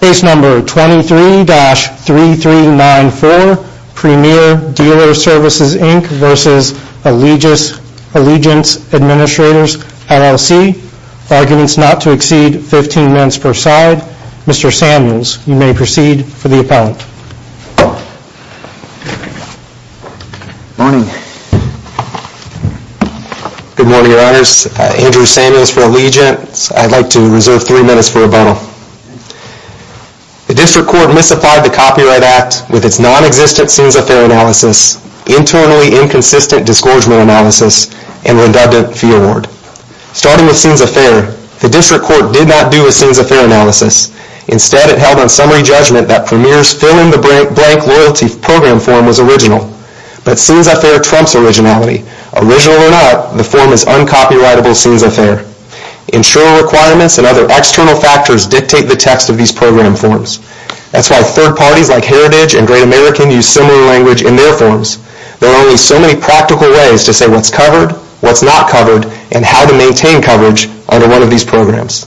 Case No. 23-3394 Premier Dealer Services Inc v. Allegiance Administrators LLC Arguments not to exceed 15 minutes per side Mr. Samuels, you may proceed for the appellant Morning Good morning, Your Honors. Andrew Samuels for Allegiance I'd like to reserve three minutes for a bono The District Court misapplied the Copyright Act with its non-existent Scenes of Affair analysis, internally inconsistent disgorgement analysis, and redundant fee award. Starting with Scenes of Affair, the District Court did not do a Scenes of Affair analysis. Instead, it held on summary judgment that Premier's fill-in-the-blank loyalty program form was original. But Scenes of Affair trumps originality. Original or not, the form is uncopyrightable Scenes of Affair. Insurer requirements and other external factors dictate the text of these program forms. That's why third parties like Heritage and Great American use similar language in their forms. There are only so many practical ways to say what's covered, what's not covered, and how to maintain coverage under one of these programs.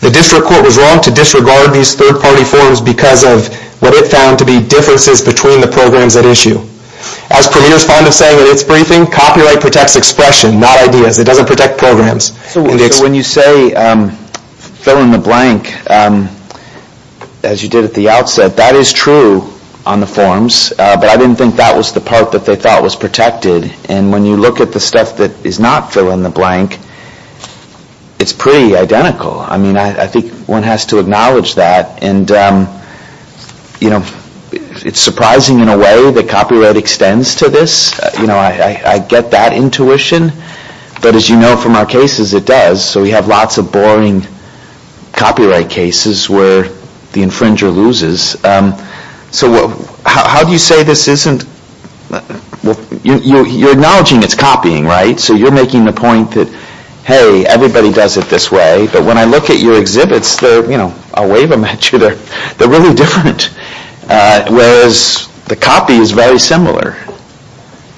The District Court was wrong to disregard these third-party forms because of what it found to be differences between the programs at issue. As Premier's fond of saying in its briefing, copyright protects expression, not ideas. It doesn't protect programs. So when you say fill-in-the-blank, as you did at the outset, that is true on the forms. But I didn't think that was the part that they thought was protected. And when you look at the stuff that is not fill-in-the-blank, it's pretty identical. I mean, I think one has to acknowledge that. And, you know, it's surprising in a way that copyright extends to this. You know, I get that intuition. But as you know from our cases, it does. So we have lots of boring copyright cases where the infringer loses. So how do you say this isn't? You're acknowledging it's copying, right? So you're making the point that, hey, everybody does it this way. But when I look at your exhibits, they're, you know, I'll wave them at you, they're really different, whereas the copy is very similar.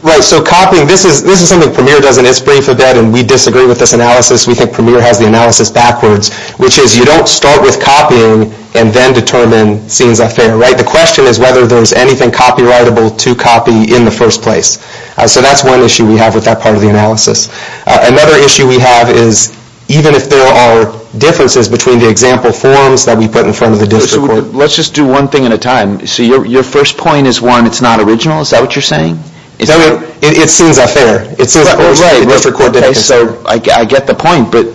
Right, so copying, this is something Premier does in its brief a bit, and we disagree with this analysis. We think Premier has the analysis backwards, which is you don't start with copying and then determine scenes are fair, right? The question is whether there's anything copyrightable to copy in the first place. So that's one issue we have with that part of the analysis. Another issue we have is even if there are differences between the example forms that we put in front of the district court. Let's just do one thing at a time. So your first point is, one, it's not original, is that what you're saying? No, it's scenes are fair. Right, so I get the point, but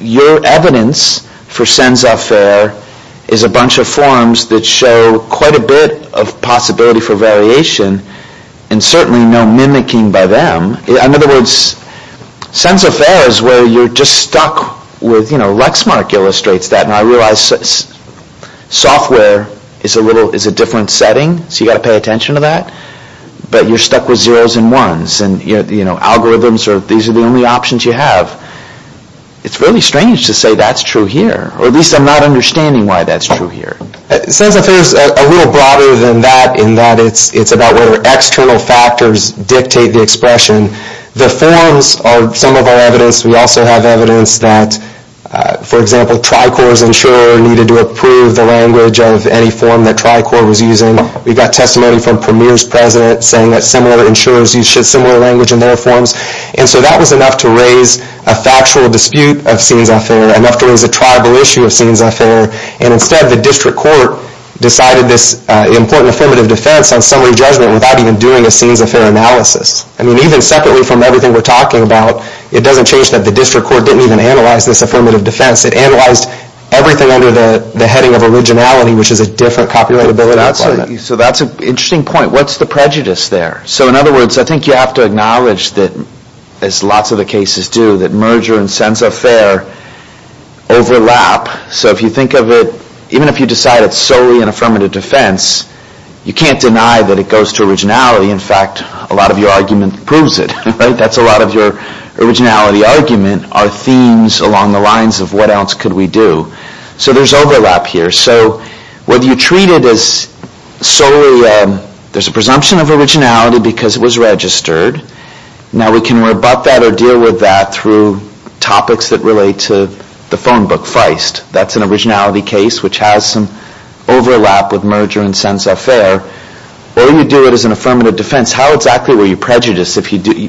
your evidence for scenes are fair is a bunch of forms that show quite a bit of possibility for variation and certainly no mimicking by them. In other words, scenes are fair is where you're just stuck with, you know, the face mark illustrates that, and I realize software is a different setting, so you've got to pay attention to that, but you're stuck with 0s and 1s, and algorithms are, these are the only options you have. It's really strange to say that's true here, or at least I'm not understanding why that's true here. Scenes are fair is a little broader than that, in that it's about whether external factors dictate the expression. The forms are some of our evidence. We also have evidence that, for example, Tricor's insurer needed to approve the language of any form that Tricor was using. We've got testimony from Premier's president saying that similar insurers use similar language in their forms, and so that was enough to raise a factual dispute of scenes are fair, enough to raise a tribal issue of scenes are fair, and instead the district court decided this important affirmative defense on summary judgment without even doing a scenes are fair analysis. I mean, even separately from everything we're talking about, it doesn't change that the district court didn't even analyze this affirmative defense. It analyzed everything under the heading of originality, which is a different copulatability requirement. So that's an interesting point. What's the prejudice there? So in other words, I think you have to acknowledge that, as lots of the cases do, that merger and scenes are fair overlap. So if you think of it, even if you decide it's solely an affirmative defense, you can't deny that it goes to originality. In fact, a lot of your argument proves it. That's a lot of your originality argument, are themes along the lines of what else could we do. So there's overlap here. So whether you treat it as solely there's a presumption of originality because it was registered. Now we can rebut that or deal with that through topics that relate to the phone book, Feist. That's an originality case which has some overlap with merger and scenes are fair. Or you do it as an affirmative defense. How exactly were you prejudiced?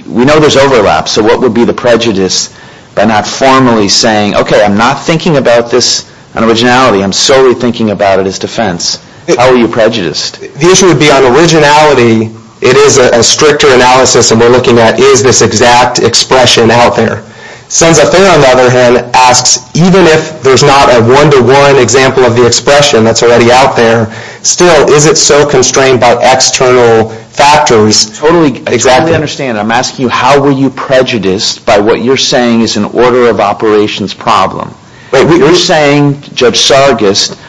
We know there's overlap. So what would be the prejudice by not formally saying, okay, I'm not thinking about this on originality. I'm solely thinking about it as defense. How were you prejudiced? The issue would be on originality, it is a stricter analysis, and we're looking at is this exact expression out there. Sons of Fear, on the other hand, asks even if there's not a one-to-one example of the expression that's already out there, still is it so constrained by external factors? I totally understand. I'm asking you how were you prejudiced by what you're saying is an order of operations problem. You're saying Judge Sargis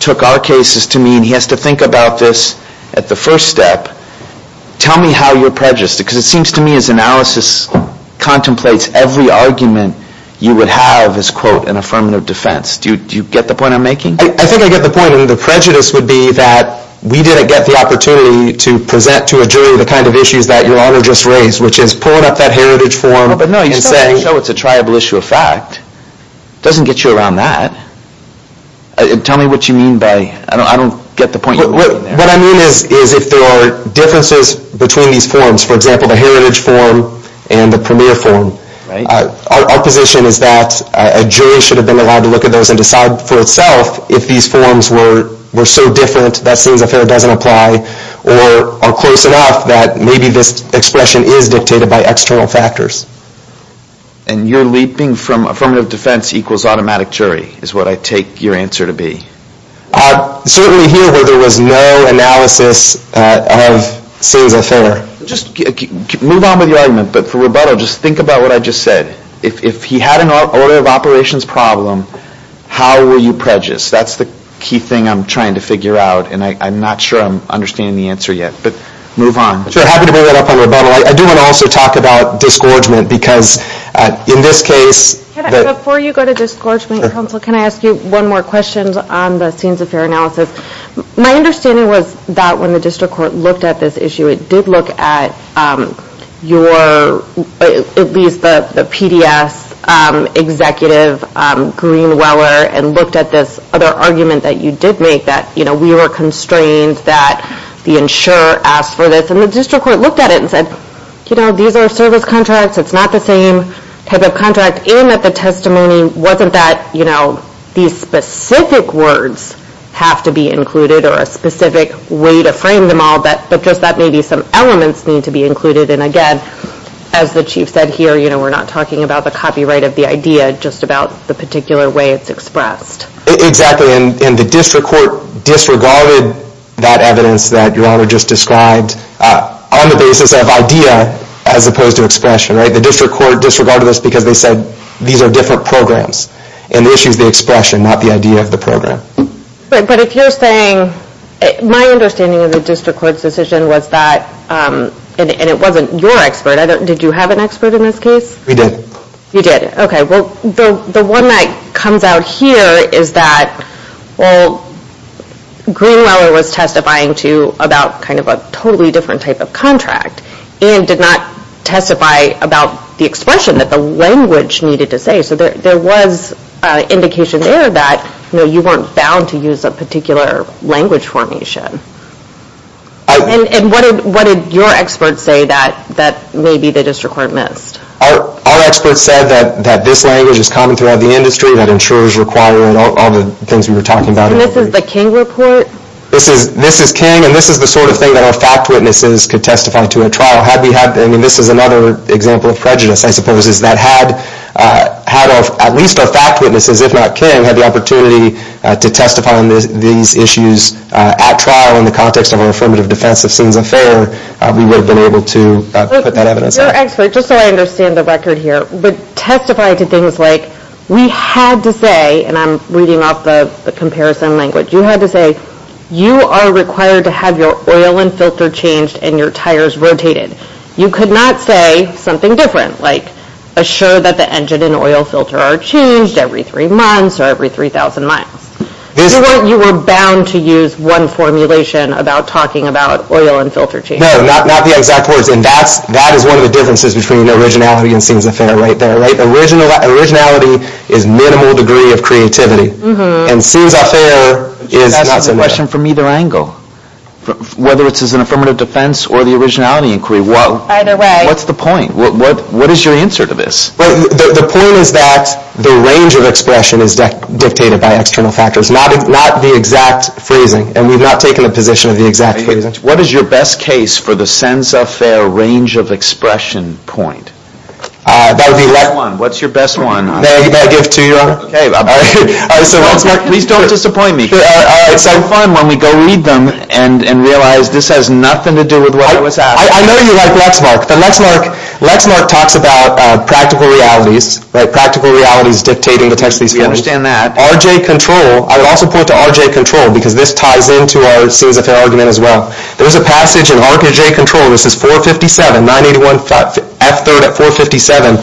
took our cases to mean he has to think about this at the first step. Tell me how you're prejudiced because it seems to me his analysis contemplates every argument you would have as, quote, an affirmative defense. Do you get the point I'm making? I think I get the point. I mean, the prejudice would be that we didn't get the opportunity to present to a jury the kind of issues that Your Honor just raised, which is pulling up that heritage form and saying- No, but no, you're trying to show it's a triable issue of fact. It doesn't get you around that. Tell me what you mean by- I don't get the point you're making there. What I mean is if there are differences between these forms, for example, the heritage form and the premier form, our position is that a jury should have been allowed to look at those and decide for itself if these forms were so different that Sins Affair doesn't apply or are close enough that maybe this expression is dictated by external factors. And you're leaping from affirmative defense equals automatic jury is what I take your answer to be. Certainly here where there was no analysis of Sins Affair. Just move on with your argument, but for rebuttal, just think about what I just said. If he had an order of operations problem, how were you prejudiced? That's the key thing I'm trying to figure out, and I'm not sure I'm understanding the answer yet, but move on. Sure, happy to bring that up on rebuttal. I do want to also talk about disgorgement because in this case- Before you go to disgorgement, counsel, can I ask you one more question on the Sins Affair analysis? My understanding was that when the district court looked at this issue, it did look at your-at least the PDS executive, Greenweller, and looked at this other argument that you did make, that we were constrained that the insurer asked for this, and the district court looked at it and said, these are service contracts, it's not the same type of contract, and that the testimony wasn't that these specific words have to be included or a specific way to frame them all, but just that maybe some elements need to be included, and again, as the chief said here, we're not talking about the copyright of the idea, just about the particular way it's expressed. Exactly, and the district court disregarded that evidence that your honor just described on the basis of idea as opposed to expression. The district court disregarded this because they said, these are different programs, and the issue is the expression, not the idea of the program. But if you're saying, my understanding of the district court's decision was that, and it wasn't your expert, did you have an expert in this case? We did. You did, okay. Well, the one that comes out here is that, well, Greenweller was testifying to about kind of a totally different type of contract, and did not testify about the expression that the language needed to say, so there was indication there that, you know, you weren't bound to use a particular language formation. And what did your expert say that maybe the district court missed? Our expert said that this language is common throughout the industry, that insurers require it, all the things we were talking about. And this is the King report? This is King, and this is the sort of thing that our fact witnesses could testify to at trial. I mean, this is another example of prejudice, I suppose, is that had at least our fact witnesses, if not King, had the opportunity to testify on these issues at trial in the context of an affirmative defense of sins and failure, we would have been able to put that evidence out. Your expert, just so I understand the record here, would testify to things like we had to say, and I'm reading off the comparison language, you had to say you are required to have your oil and filter changed and your tires rotated. You could not say something different, like assure that the engine and oil filter are changed every three months or every 3,000 miles. You were bound to use one formulation about talking about oil and filter change. No, not the exact words, and that is one of the differences between originality and sins of error right there. Originality is minimal degree of creativity, and sins of error is not similar. That's a question from either angle, whether it's as an affirmative defense or the originality inquiry. Either way. What's the point? What is your answer to this? The point is that the range of expression is dictated by external factors, not the exact phrasing, and we've not taken a position of the exact phrasing. What is your best case for the sins of error range of expression point? What's your best one? May I give two? Please don't disappoint me. It's so fun when we go read them and realize this has nothing to do with what I was asking. I know you like Lexmark, but Lexmark talks about practical realities, practical realities dictating the text of these forms. We understand that. RJ Control, I would also point to RJ Control, because this ties into our sins of error argument as well. There's a passage in RJ Control, this is 457, 981 F3rd at 457,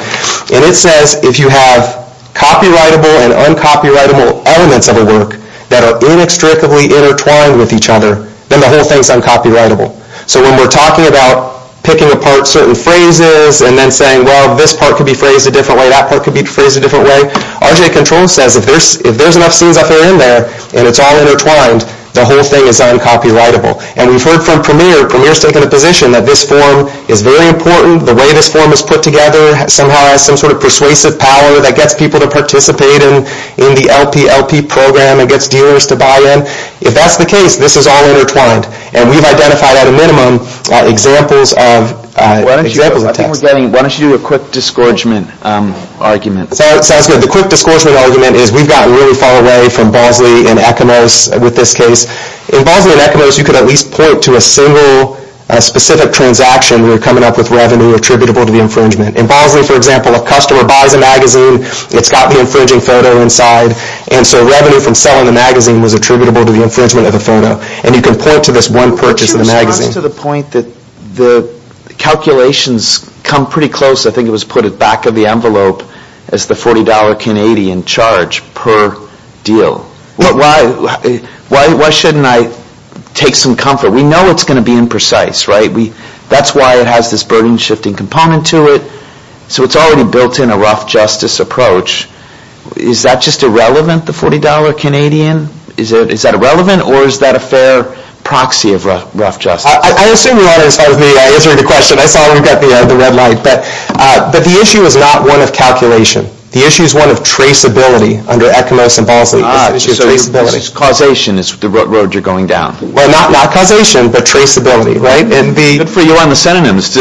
and it says if you have copyrightable and uncopyrightable elements of a work that are inextricably intertwined with each other, then the whole thing is uncopyrightable. So when we're talking about picking apart certain phrases and then saying, well, this part could be phrased a different way, that part could be phrased a different way, RJ Control says if there's enough sins of error in there and it's all intertwined, the whole thing is uncopyrightable. And we've heard from Premier, Premier's taken a position that this form is very important, the way this form is put together somehow has some sort of persuasive power that gets people to participate in the LPLP program and gets dealers to buy in. If that's the case, this is all intertwined, and we've identified at a minimum examples of text. Why don't you do a quick disgorgement argument. Sounds good. The quick disgorgement argument is we've gotten really far away from Bosley and Ecamos with this case. In Bosley and Ecamos, you could at least point to a single specific transaction where you're coming up with revenue attributable to the infringement. In Bosley, for example, a customer buys a magazine, it's got the infringing photo inside, and so revenue from selling the magazine was attributable to the infringement of the photo. And you can point to this one purchase of the magazine. But your response to the point that the calculations come pretty close, I think it was put at the back of the envelope, as the $40 Canadian charge per deal. Why shouldn't I take some comfort? We know it's going to be imprecise, right? That's why it has this burden-shifting component to it. So it's already built in a rough justice approach. Is that just irrelevant, the $40 Canadian? Is that irrelevant, or is that a fair proxy of rough justice? I assume you want to start with me answering the question. I saw we've got the red light. But the issue is not one of calculation. The issue is one of traceability under Ecamos and Bosley. Ah, so it's causation, it's the road you're going down. Well, not causation, but traceability, right? Good for you on the synonyms.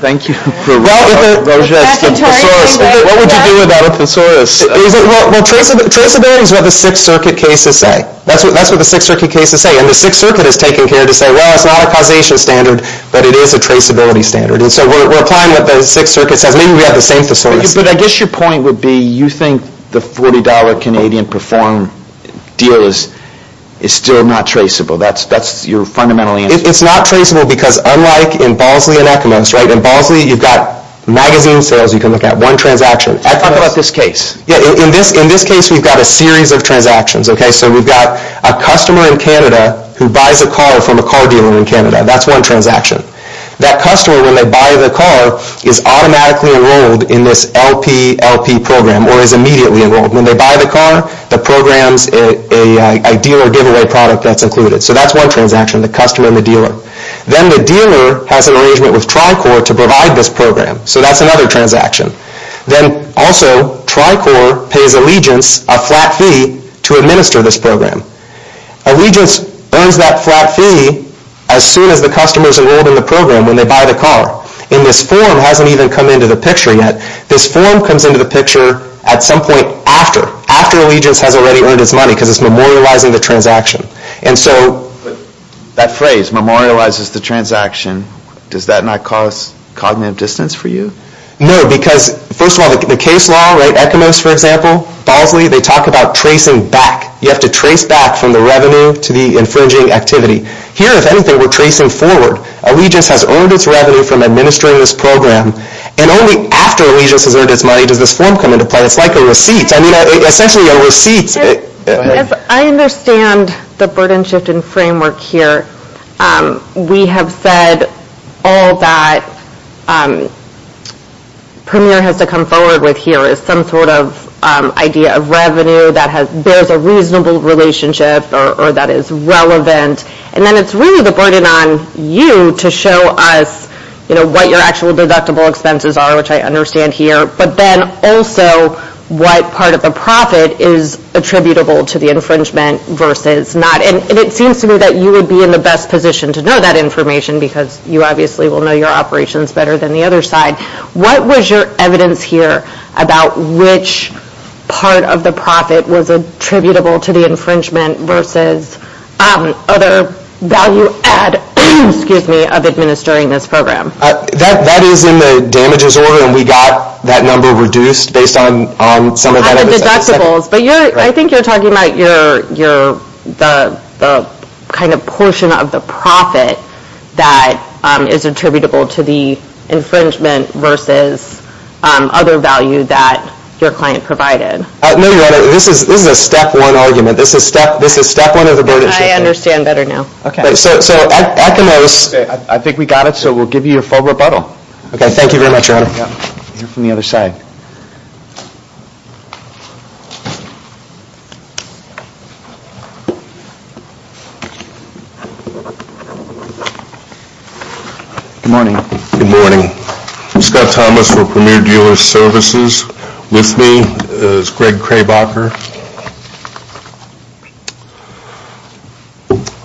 Thank you. What would you do without a thesaurus? Well, traceability is what the Sixth Circuit cases say. That's what the Sixth Circuit cases say. And the Sixth Circuit has taken care to say, well, it's not a causation standard, but it is a traceability standard. And so we're applying what the Sixth Circuit says. Maybe we have the same thesaurus. But I guess your point would be, you think the $40 Canadian-performed deal is still not traceable. That's your fundamental answer. It's not traceable because, unlike in Bosley and Ecamos, in Bosley you've got magazine sales, you can look at one transaction. In this case we've got a series of transactions. So we've got a customer in Canada who buys a car from a car dealer in Canada. That's one transaction. That customer, when they buy the car, is automatically enrolled in this LPLP program, or is immediately enrolled. When they buy the car, the program's a dealer giveaway product that's included. So that's one transaction, the customer and the dealer. Then the dealer has an arrangement with Tricor to provide this program. So that's another transaction. Then, also, Tricor pays Allegiance a flat fee to administer this program. Allegiance earns that flat fee as soon as the customer's enrolled in the program when they buy the car. And this form hasn't even come into the picture yet. This form comes into the picture at some point after. After Allegiance has already earned its money because it's memorializing the transaction. And so... But that phrase, memorializes the transaction, does that not cause cognitive dissonance for you? No, because, first of all, the case law, right? ECOMOS, for example, Bosley, they talk about tracing back. You have to trace back from the revenue to the infringing activity. Here, if anything, we're tracing forward. Allegiance has earned its revenue from administering this program. And only after Allegiance has earned its money does this form come into play. It's like a receipt. I mean, essentially, a receipt. I understand the burden-shifting framework here. We have said all that Premier has to come forward with here is some sort of idea of revenue that bears a reasonable relationship or that is relevant. And then it's really the burden on you to show us what your actual deductible expenses are, which I understand here, but then also what part of the profit is attributable to the infringement versus not. And it seems to me that you would be in the best position to know that information because you obviously will know your operations better than the other side. What was your evidence here about which part of the profit was attributable to the infringement versus other value add, excuse me, of administering this program? That is in the damages order, and we got that number reduced based on some of that. I think you're talking about the kind of portion of the profit that is attributable to the infringement versus other value that your client provided. No, Your Honor, this is a step one argument. This is step one of the burden-shifting. I understand better now. I think we got it, so we'll give you your full rebuttal. Okay, thank you very much, Your Honor. We'll hear from the other side. Good morning. Good morning. Scott Thomas for Premier Dealer Services. With me is Greg Krabacher.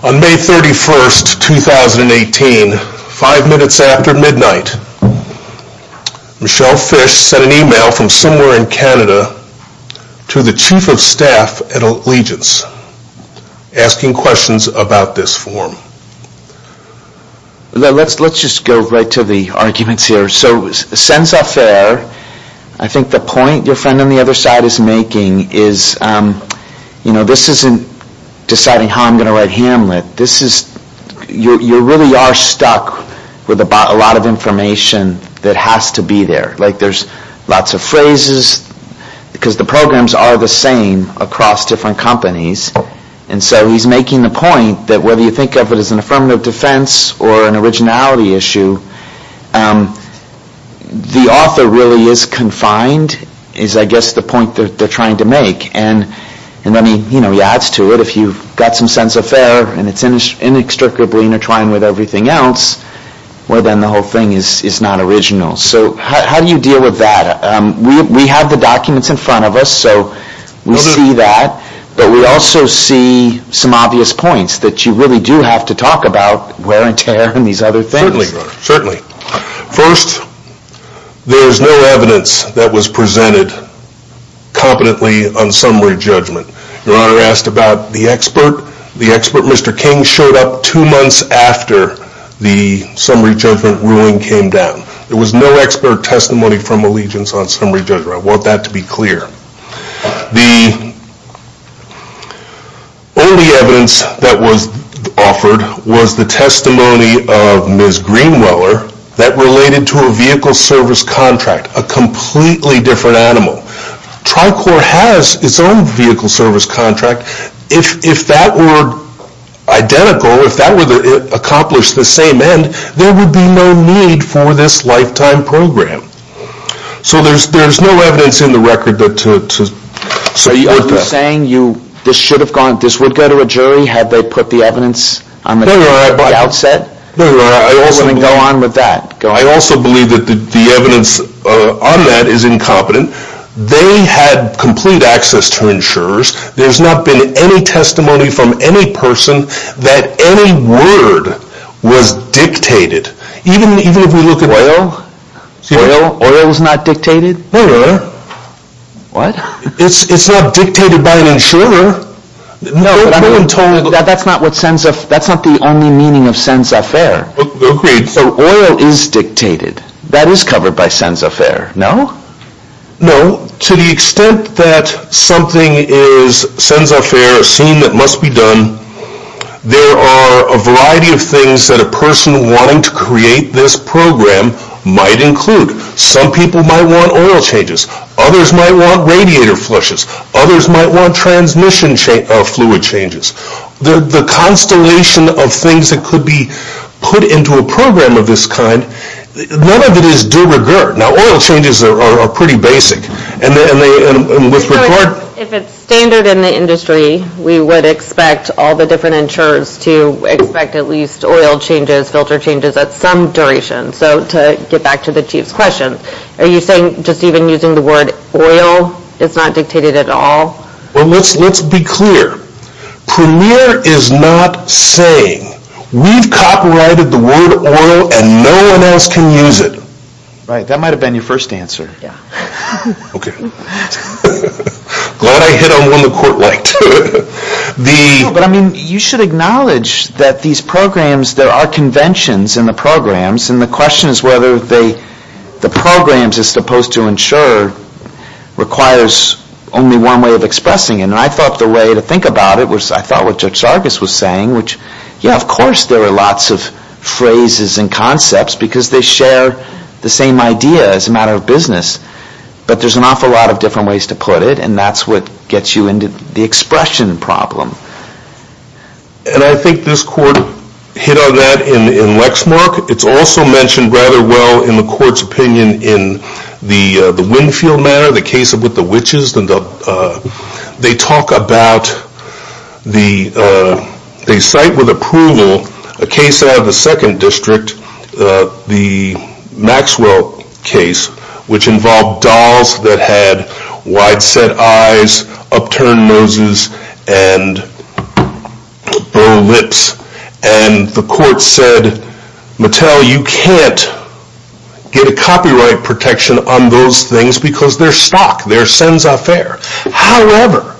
On May 31, 2018, five minutes after midnight, Michelle Fish sent an e-mail from somewhere in Canada to the Chief of Staff at Allegiance, asking questions about this form. Let's just go right to the arguments here. So Senza Fair, I think the point your friend on the other side is making is this isn't deciding how I'm going to write Hamlet. You really are stuck with a lot of information that has to be there. Like there's lots of phrases, because the programs are the same across different companies. And so he's making the point that whether you think of it as an affirmative defense or an originality issue, the author really is confined, is I guess the point that they're trying to make. And then he adds to it, if you've got some sense of fair, and it's inextricably intertwined with everything else, well then the whole thing is not original. So how do you deal with that? We have the documents in front of us, so we see that. But we also see some obvious points that you really do have to talk about wear and tear and these other things. Certainly, Your Honor. Certainly. First, there is no evidence that was presented competently on summary judgment. Your Honor asked about the expert. The expert, Mr. King, showed up two months after the summary judgment ruling came down. There was no expert testimony from allegiance on summary judgment. I want that to be clear. The only evidence that was offered was the testimony of Ms. Greenweller that related to a vehicle service contract, a completely different animal. Tricor has its own vehicle service contract. If that were identical, if that were to accomplish the same end, there would be no need for this lifetime program. So there's no evidence in the record to support that. Are you saying this would go to a jury had they put the evidence on the doubt set? No, Your Honor. I also believe that the evidence on that is incompetent. They had complete access to insurers. There's not been any testimony from any person that any word was dictated. Oil? Oil is not dictated? No, Your Honor. What? It's not dictated by an insurer. No, but that's not the only meaning of sens affaire. Agreed. So oil is dictated. That is covered by sens affaire, no? No. To the extent that something is sens affaire, a scene that must be done, there are a variety of things that a person wanting to create this program might include. Some people might want oil changes. Others might want radiator flushes. Others might want transmission fluid changes. The constellation of things that could be put into a program of this kind, none of it is de rigueur. Now, oil changes are pretty basic. If it's standard in the industry, we would expect all the different insurers to expect at least oil changes, filter changes, at some duration. So to get back to the Chief's question, are you saying just even using the word oil is not dictated at all? Well, let's be clear. Premier is not saying we've copyrighted the word oil and no one else can use it. Right, that might have been your first answer. Okay. Glad I hit on one the court liked. No, but I mean you should acknowledge that these programs, there are conventions in the programs and the question is whether the programs as opposed to insurer requires only one way of expressing it. And I thought the way to think about it was, I thought what Judge Sargas was saying, which, yeah, of course there are lots of phrases and concepts because they share the same idea as a matter of business. But there's an awful lot of different ways to put it and that's what gets you into the expression problem. And I think this court hit on that in Lexmark. It's also mentioned rather well in the court's opinion in the Winfield matter, the case with the witches. They talk about, they cite with approval a case out of the second district, the Maxwell case, which involved dolls that had wide-set eyes, upturned noses, and bow lips. And the court said, Mattel, you can't get a copyright protection on those things because they're stock. They're cens a faire. However,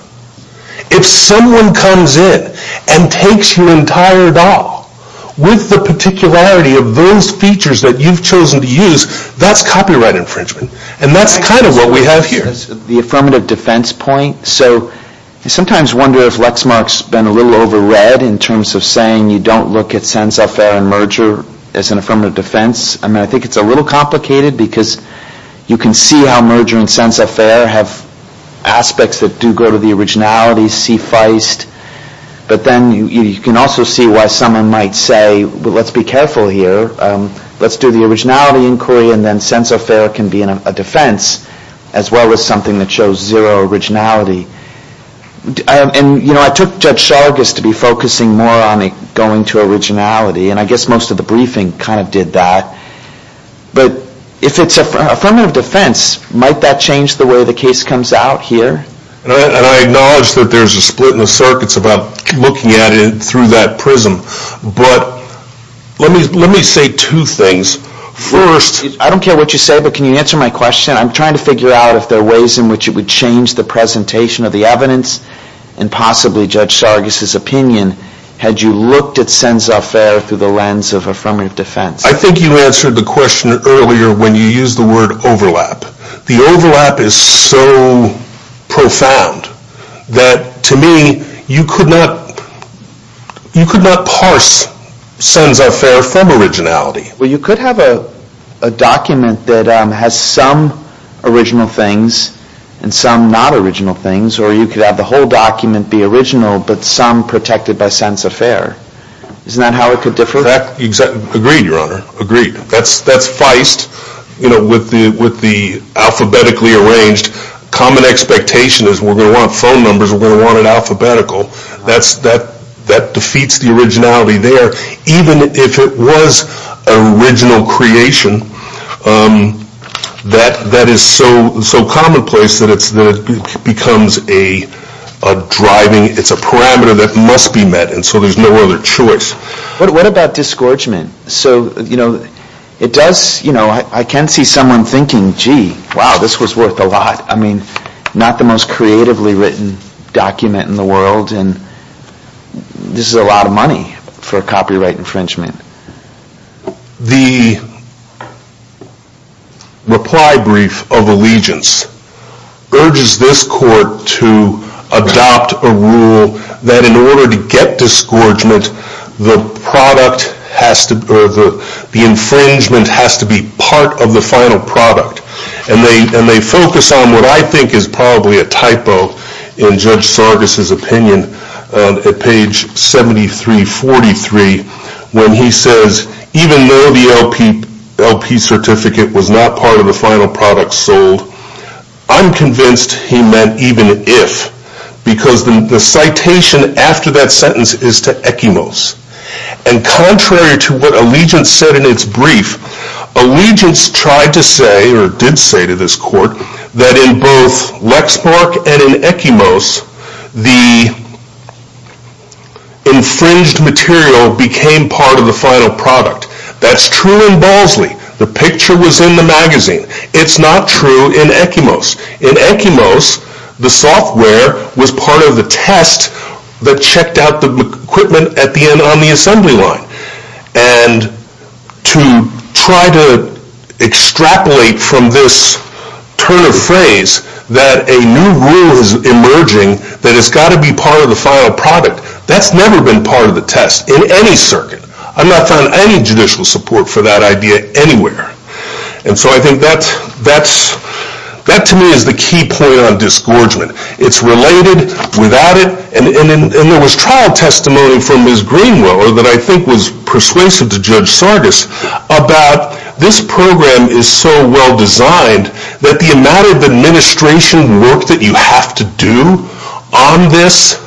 if someone comes in and takes your entire doll with the particularity of those features that you've chosen to use, that's copyright infringement. And that's kind of what we have here. The affirmative defense point. So I sometimes wonder if Lexmark's been a little over read in terms of saying you don't look at cens a faire and merger as an affirmative defense. I mean, I think it's a little complicated because you can see how merger and cens a faire have aspects that do go to the originality, but then you can also see why someone might say, well, let's be careful here. Let's do the originality inquiry and then cens a faire can be in a defense as well as something that shows zero originality. And, you know, I took Judge Sargas to be focusing more on going to originality, and I guess most of the briefing kind of did that. But if it's an affirmative defense, might that change the way the case comes out here? And I acknowledge that there's a split in the circuits about looking at it through that prism, but let me say two things. First... I don't care what you say, but can you answer my question? I'm trying to figure out if there are ways in which it would change the presentation of the evidence and possibly Judge Sargas' opinion had you looked at cens a faire through the lens of affirmative defense. I think you answered the question earlier when you used the word overlap. The overlap is so profound that to me you could not... you could not parse cens a faire from originality. Well, you could have a document that has some original things and some not original things, or you could have the whole document be original but some protected by cens a faire. Isn't that how it could differ? Exactly. Agreed, Your Honor. Agreed. That's feist, you know, with the alphabetically arranged. Common expectation is we're going to want phone numbers, we're going to want it alphabetical. That defeats the originality there. Even if it was an original creation, that is so commonplace that it becomes a driving... it's a parameter that must be met and so there's no other choice. What about disgorgement? So, you know, it does... I can see someone thinking, gee, wow, this was worth a lot. I mean, not the most creatively written document in the world and this is a lot of money for a copyright infringement. The reply brief of allegiance urges this court to adopt a rule that in order to get disgorgement, the product has to... the infringement has to be part of the final product and they focus on what I think is probably a typo in Judge Sargas' opinion at page 7343 when he says, even though the LP certificate was not part of the final product sold, I'm convinced he meant even if because the citation after that sentence is to Ekimos and contrary to what allegiance said in its brief, allegiance tried to say or did say to this court that in both Lexmark and in Ekimos the infringed material became part of the final product. That's true in Ballsley. The picture was in the magazine. It's not true in Ekimos. In Ekimos, the software was part of the test that checked out the equipment at the end on the assembly line and to try to extrapolate from this turn of phrase that a new rule is emerging that it's got to be part of the final product, that's never been part of the test in any circuit. I've not found any judicial support for that idea anywhere and so I think that to me is the key point on disgorgement. It's related, without it, and there was trial testimony from Ms. Greenwell that I think was persuasive to Judge Sargis about this program is so well designed that the amount of administration work that you have to do on this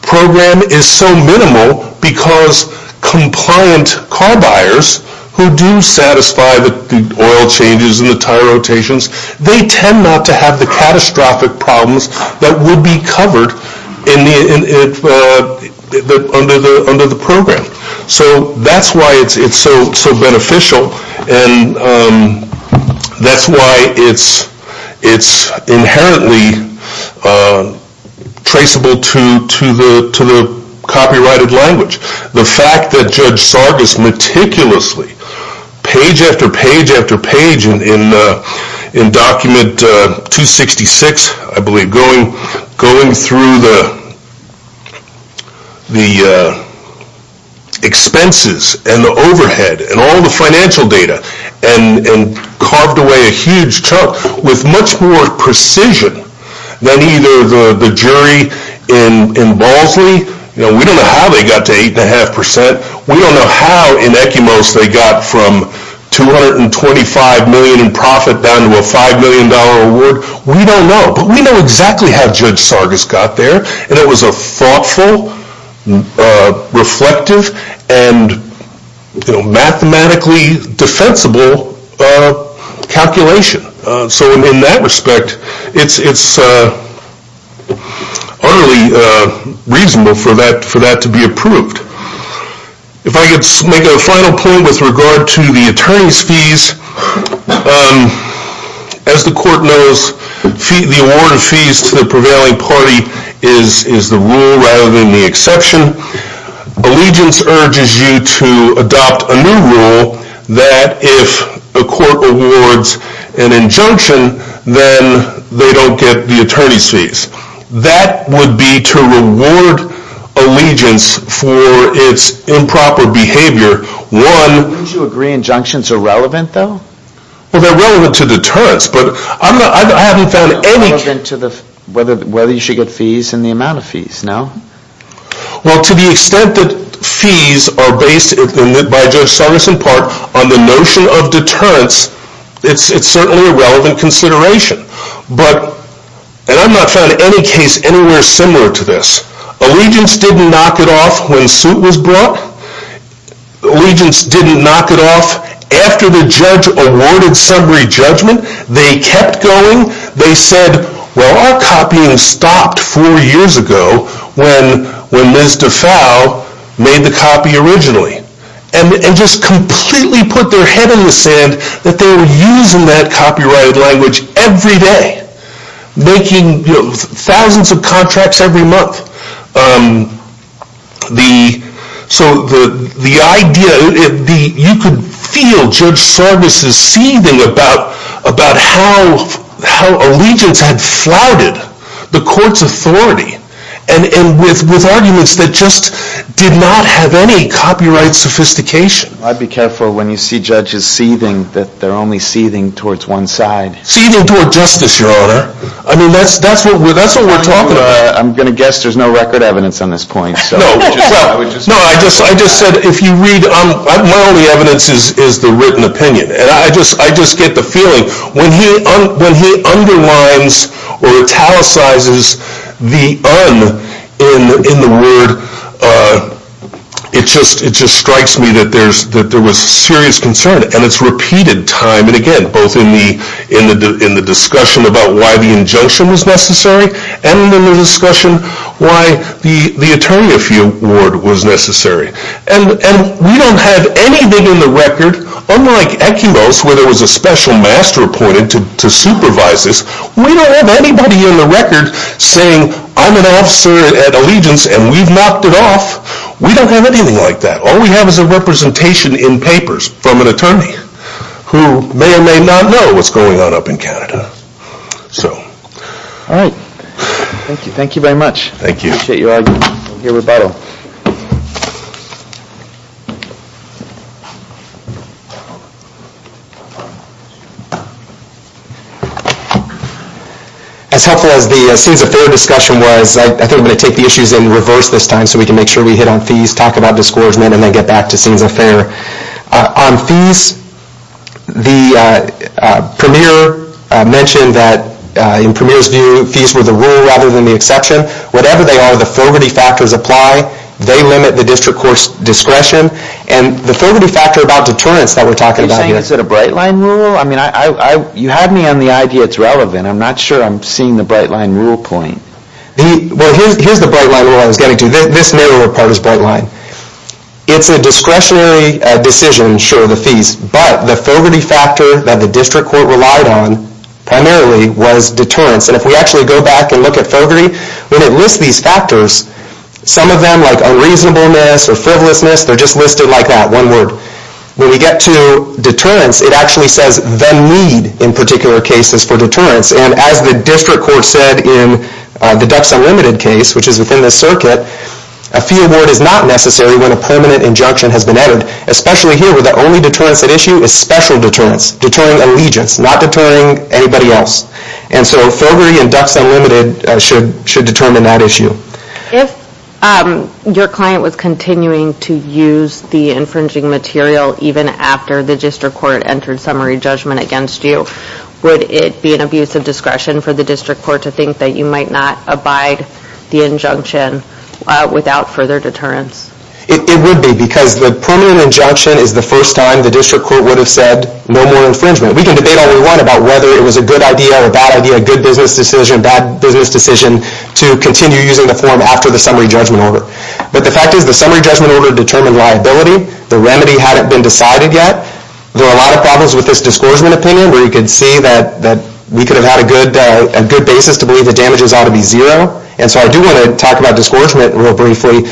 program is so minimal because compliant car buyers who do satisfy the oil changes and the tire rotations, they tend not to have the catastrophic problems that would be covered under the program. So that's why it's so beneficial and that's why it's inherently traceable to the copyrighted language. The fact that Judge Sargis meticulously, page after page after page in document 266, I believe, going through the expenses and the overhead and all the financial data and carved away a huge chunk with much more precision than either the jury in Bosley, we don't know how they got to 8.5%, we don't know how in ECUMOS they got from $225 million in profit down to a $5 million award, we don't know. But we know exactly how Judge Sargis got there and it was a thoughtful, reflective, and mathematically defensible calculation. So in that respect, it's utterly reasonable for that to be approved. If I could make a final point with regard to the attorney's fees, as the court knows, the award of fees to the prevailing party is the rule rather than the exception. Allegiance urges you to adopt a new rule that if a court awards an injunction, then they don't get the attorney's fees. That would be to reward allegiance for its improper behavior. Would you agree injunctions are relevant, though? Well, they're relevant to deterrence, but I haven't found any... They're relevant to whether you should get fees and the amount of fees, no? Well, to the extent that fees are based, by Judge Sargis in part, on the notion of deterrence, it's certainly a relevant consideration. And I've not found any case anywhere similar to this. Allegiance didn't knock it off when suit was brought. Allegiance didn't knock it off after the judge awarded summary judgment. They kept going. They said, well, our copying stopped four years ago when Ms. Defow made the copy originally. And just completely put their head in the sand that they were using that copyrighted language every day, making thousands of contracts every month. So the idea... You could feel Judge Sargis' seething about how allegiance had flouted the court's authority with arguments that just did not have any copyright sophistication. I'd be careful when you see judges seething that they're only seething towards one side. Seething toward justice, Your Honor. I mean, that's what we're talking about. I'm going to guess there's no record evidence on this point. No, I just said if you read... My only evidence is the written opinion. And I just get the feeling when he underlines or italicizes the un in the word, it just strikes me that there was serious concern. And it's repeated time and again, both in the discussion about why the injunction was necessary and in the discussion why the attorney-of-few word was necessary. And we don't have anything in the record, unlike Eculos, where there was a special master appointed to supervise this, we don't have anybody in the record saying, I'm an officer at allegiance and we've knocked it off. We don't have anything like that. All we have is a representation in papers from an attorney who may or may not know what's going on up in Canada. So... All right. Thank you very much. Thank you. I appreciate your argument and your rebuttal. As helpful as the Scenes of Fear discussion was, I think I'm going to take the issues in reverse this time so we can make sure we hit on fees, talk about discouragement, and then get back to Scenes of Fear. On fees, the Premier mentioned that, in Premier's view, fees were the rule rather than the exception. Whatever they are, the Fogarty factors apply. They limit the district court's discretion. And the Fogarty factor about deterrence that we're talking about here... Are you saying it's a Bright Line rule? I mean, you had me on the idea it's relevant. I'm not sure I'm seeing the Bright Line rule point. Well, here's the Bright Line rule I was getting to. This narrower part is Bright Line. It's a discretionary decision, sure, the fees, but the Fogarty factor that the district court relied on primarily was deterrence. And if we actually go back and look at Fogarty, when it lists these factors, some of them, like unreasonableness or frivolousness, they're just listed like that, one word. When we get to deterrence, it actually says then lead in particular cases for deterrence. And as the district court said in the Ducks Unlimited case, which is within this circuit, a fee award is not necessary when a permanent injunction has been added, especially here where the only deterrence at issue is special deterrence, deterring allegiance, not deterring anybody else. And so Fogarty and Ducks Unlimited should determine that issue. If your client was continuing to use the infringing material even after the district court entered summary judgment against you, would it be an abuse of discretion for the district court to think that you might not abide the injunction without further deterrence? It would be because the permanent injunction is the first time the district court would have said no more infringement. We can debate all we want about whether it was a good idea or a bad idea, a good business decision, bad business decision, to continue using the form after the summary judgment order. But the fact is the summary judgment order determined liability. The remedy hadn't been decided yet. There are a lot of problems with this discouragement opinion where you can see that we could have had a good basis to believe the damages ought to be zero. And so I do want to talk about discouragement real briefly.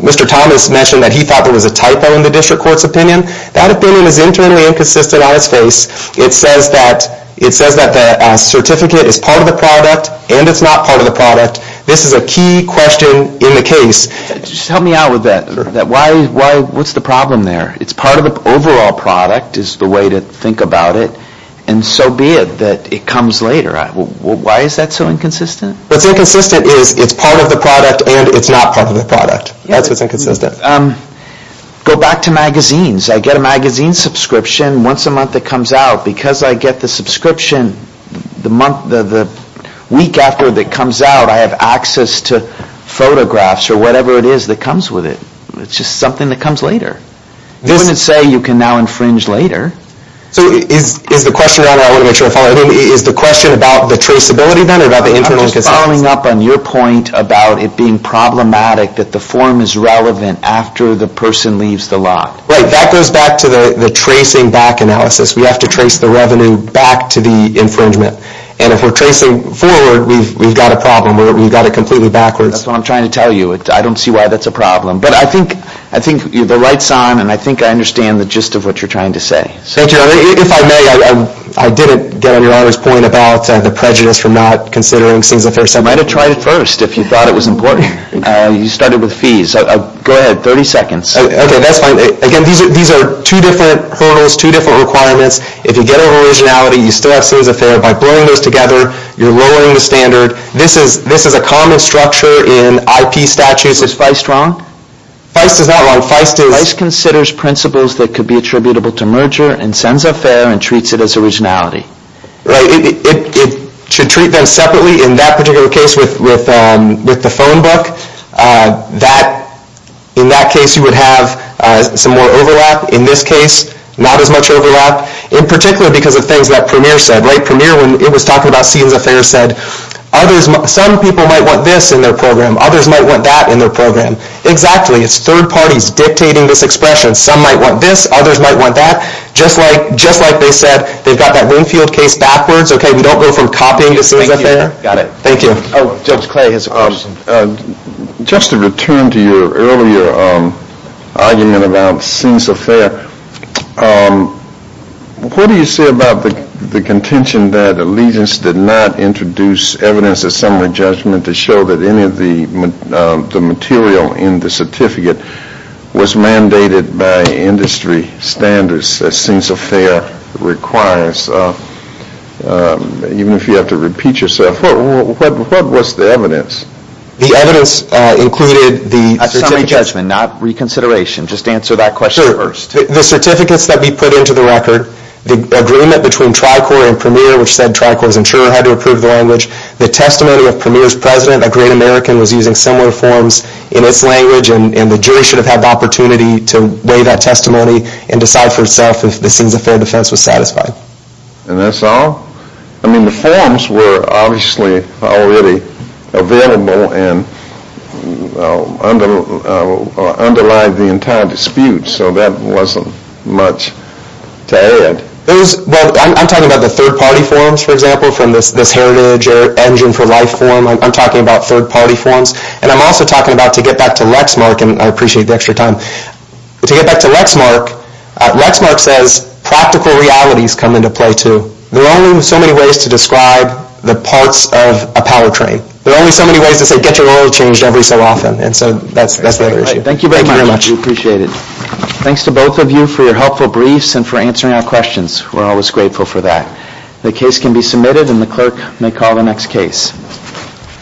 Mr. Thomas mentioned that he thought there was a typo in the district court's opinion. That opinion is internally inconsistent on its face. It says that the certificate is part of the product and it's not part of the product. This is a key question in the case. Just help me out with that. What's the problem there? It's part of the overall product is the way to think about it, and so be it that it comes later. Why is that so inconsistent? What's inconsistent is it's part of the product and it's not part of the product. That's what's inconsistent. Go back to magazines. I get a magazine subscription once a month that comes out. Because I get the subscription the week after that comes out, I have access to photographs or whatever it is that comes with it. It's just something that comes later. You wouldn't say you can now infringe later. Is the question about the traceability then or about the internal consistency? I'm just following up on your point about it being problematic that the form is relevant after the person leaves the lot. Right. That goes back to the tracing back analysis. We have to trace the revenue back to the infringement. And if we're tracing forward, we've got a problem. We've got it completely backwards. That's what I'm trying to tell you. I don't see why that's a problem. But I think the right sign, and I think I understand the gist of what you're trying to say. Thank you, Your Honor. If I may, I didn't get on Your Honor's point about the prejudice for not considering things at first. I might have tried it first if you thought it was important. You started with fees. Go ahead, 30 seconds. Okay, that's fine. Again, these are two different hurdles, two different requirements. If you get an originality, you still have sense of fair. By blurring those together, you're lowering the standard. This is a common structure in IP statutes. Is Feist wrong? Feist is not wrong. Feist is... Feist considers principles that could be attributable to merger and sense of fair and treats it as originality. Right. It should treat them separately in that particular case with the phone book. In that case, you would have some more overlap. In this case, not as much overlap, in particular because of things that Premier said. Premier, when it was talking about sense of fair, said, some people might want this in their program. Others might want that in their program. Exactly. It's third parties dictating this expression. Some might want this. Others might want that. Just like they said, they've got that Winfield case backwards. We don't go from copying to sense of fair. Got it. Thank you. Judge Clay has a question. Just to return to your earlier argument about sense of fair, what do you say about the contention that allegiance did not introduce evidence of summary judgment to show that any of the material in the certificate was mandated by industry standards as sense of fair requires? Even if you have to repeat yourself. What was the evidence? The evidence included the – Summary judgment, not reconsideration. Just answer that question first. The certificates that we put into the record, the agreement between Tricor and Premier, which said Tricor's insurer had to approve the language, the testimony of Premier's president, a great American, was using similar forms in its language, and the jury should have had the opportunity to weigh that testimony and decide for itself if the sense of fair defense was satisfied. And that's all? I mean, the forms were obviously already available and underlined the entire dispute, so that wasn't much to add. I'm talking about the third-party forms, for example, from this Heritage or Engine for Life form. I'm talking about third-party forms. And I'm also talking about, to get back to Lexmark, and I appreciate the extra time, to get back to Lexmark, Lexmark says practical realities come into play, too. There are only so many ways to describe the parts of a powertrain. There are only so many ways to say, get your oil changed every so often. And so that's the other issue. Thank you very much. We appreciate it. Thanks to both of you for your helpful briefs and for answering our questions. We're always grateful for that. The case can be submitted, and the clerk may call the next case.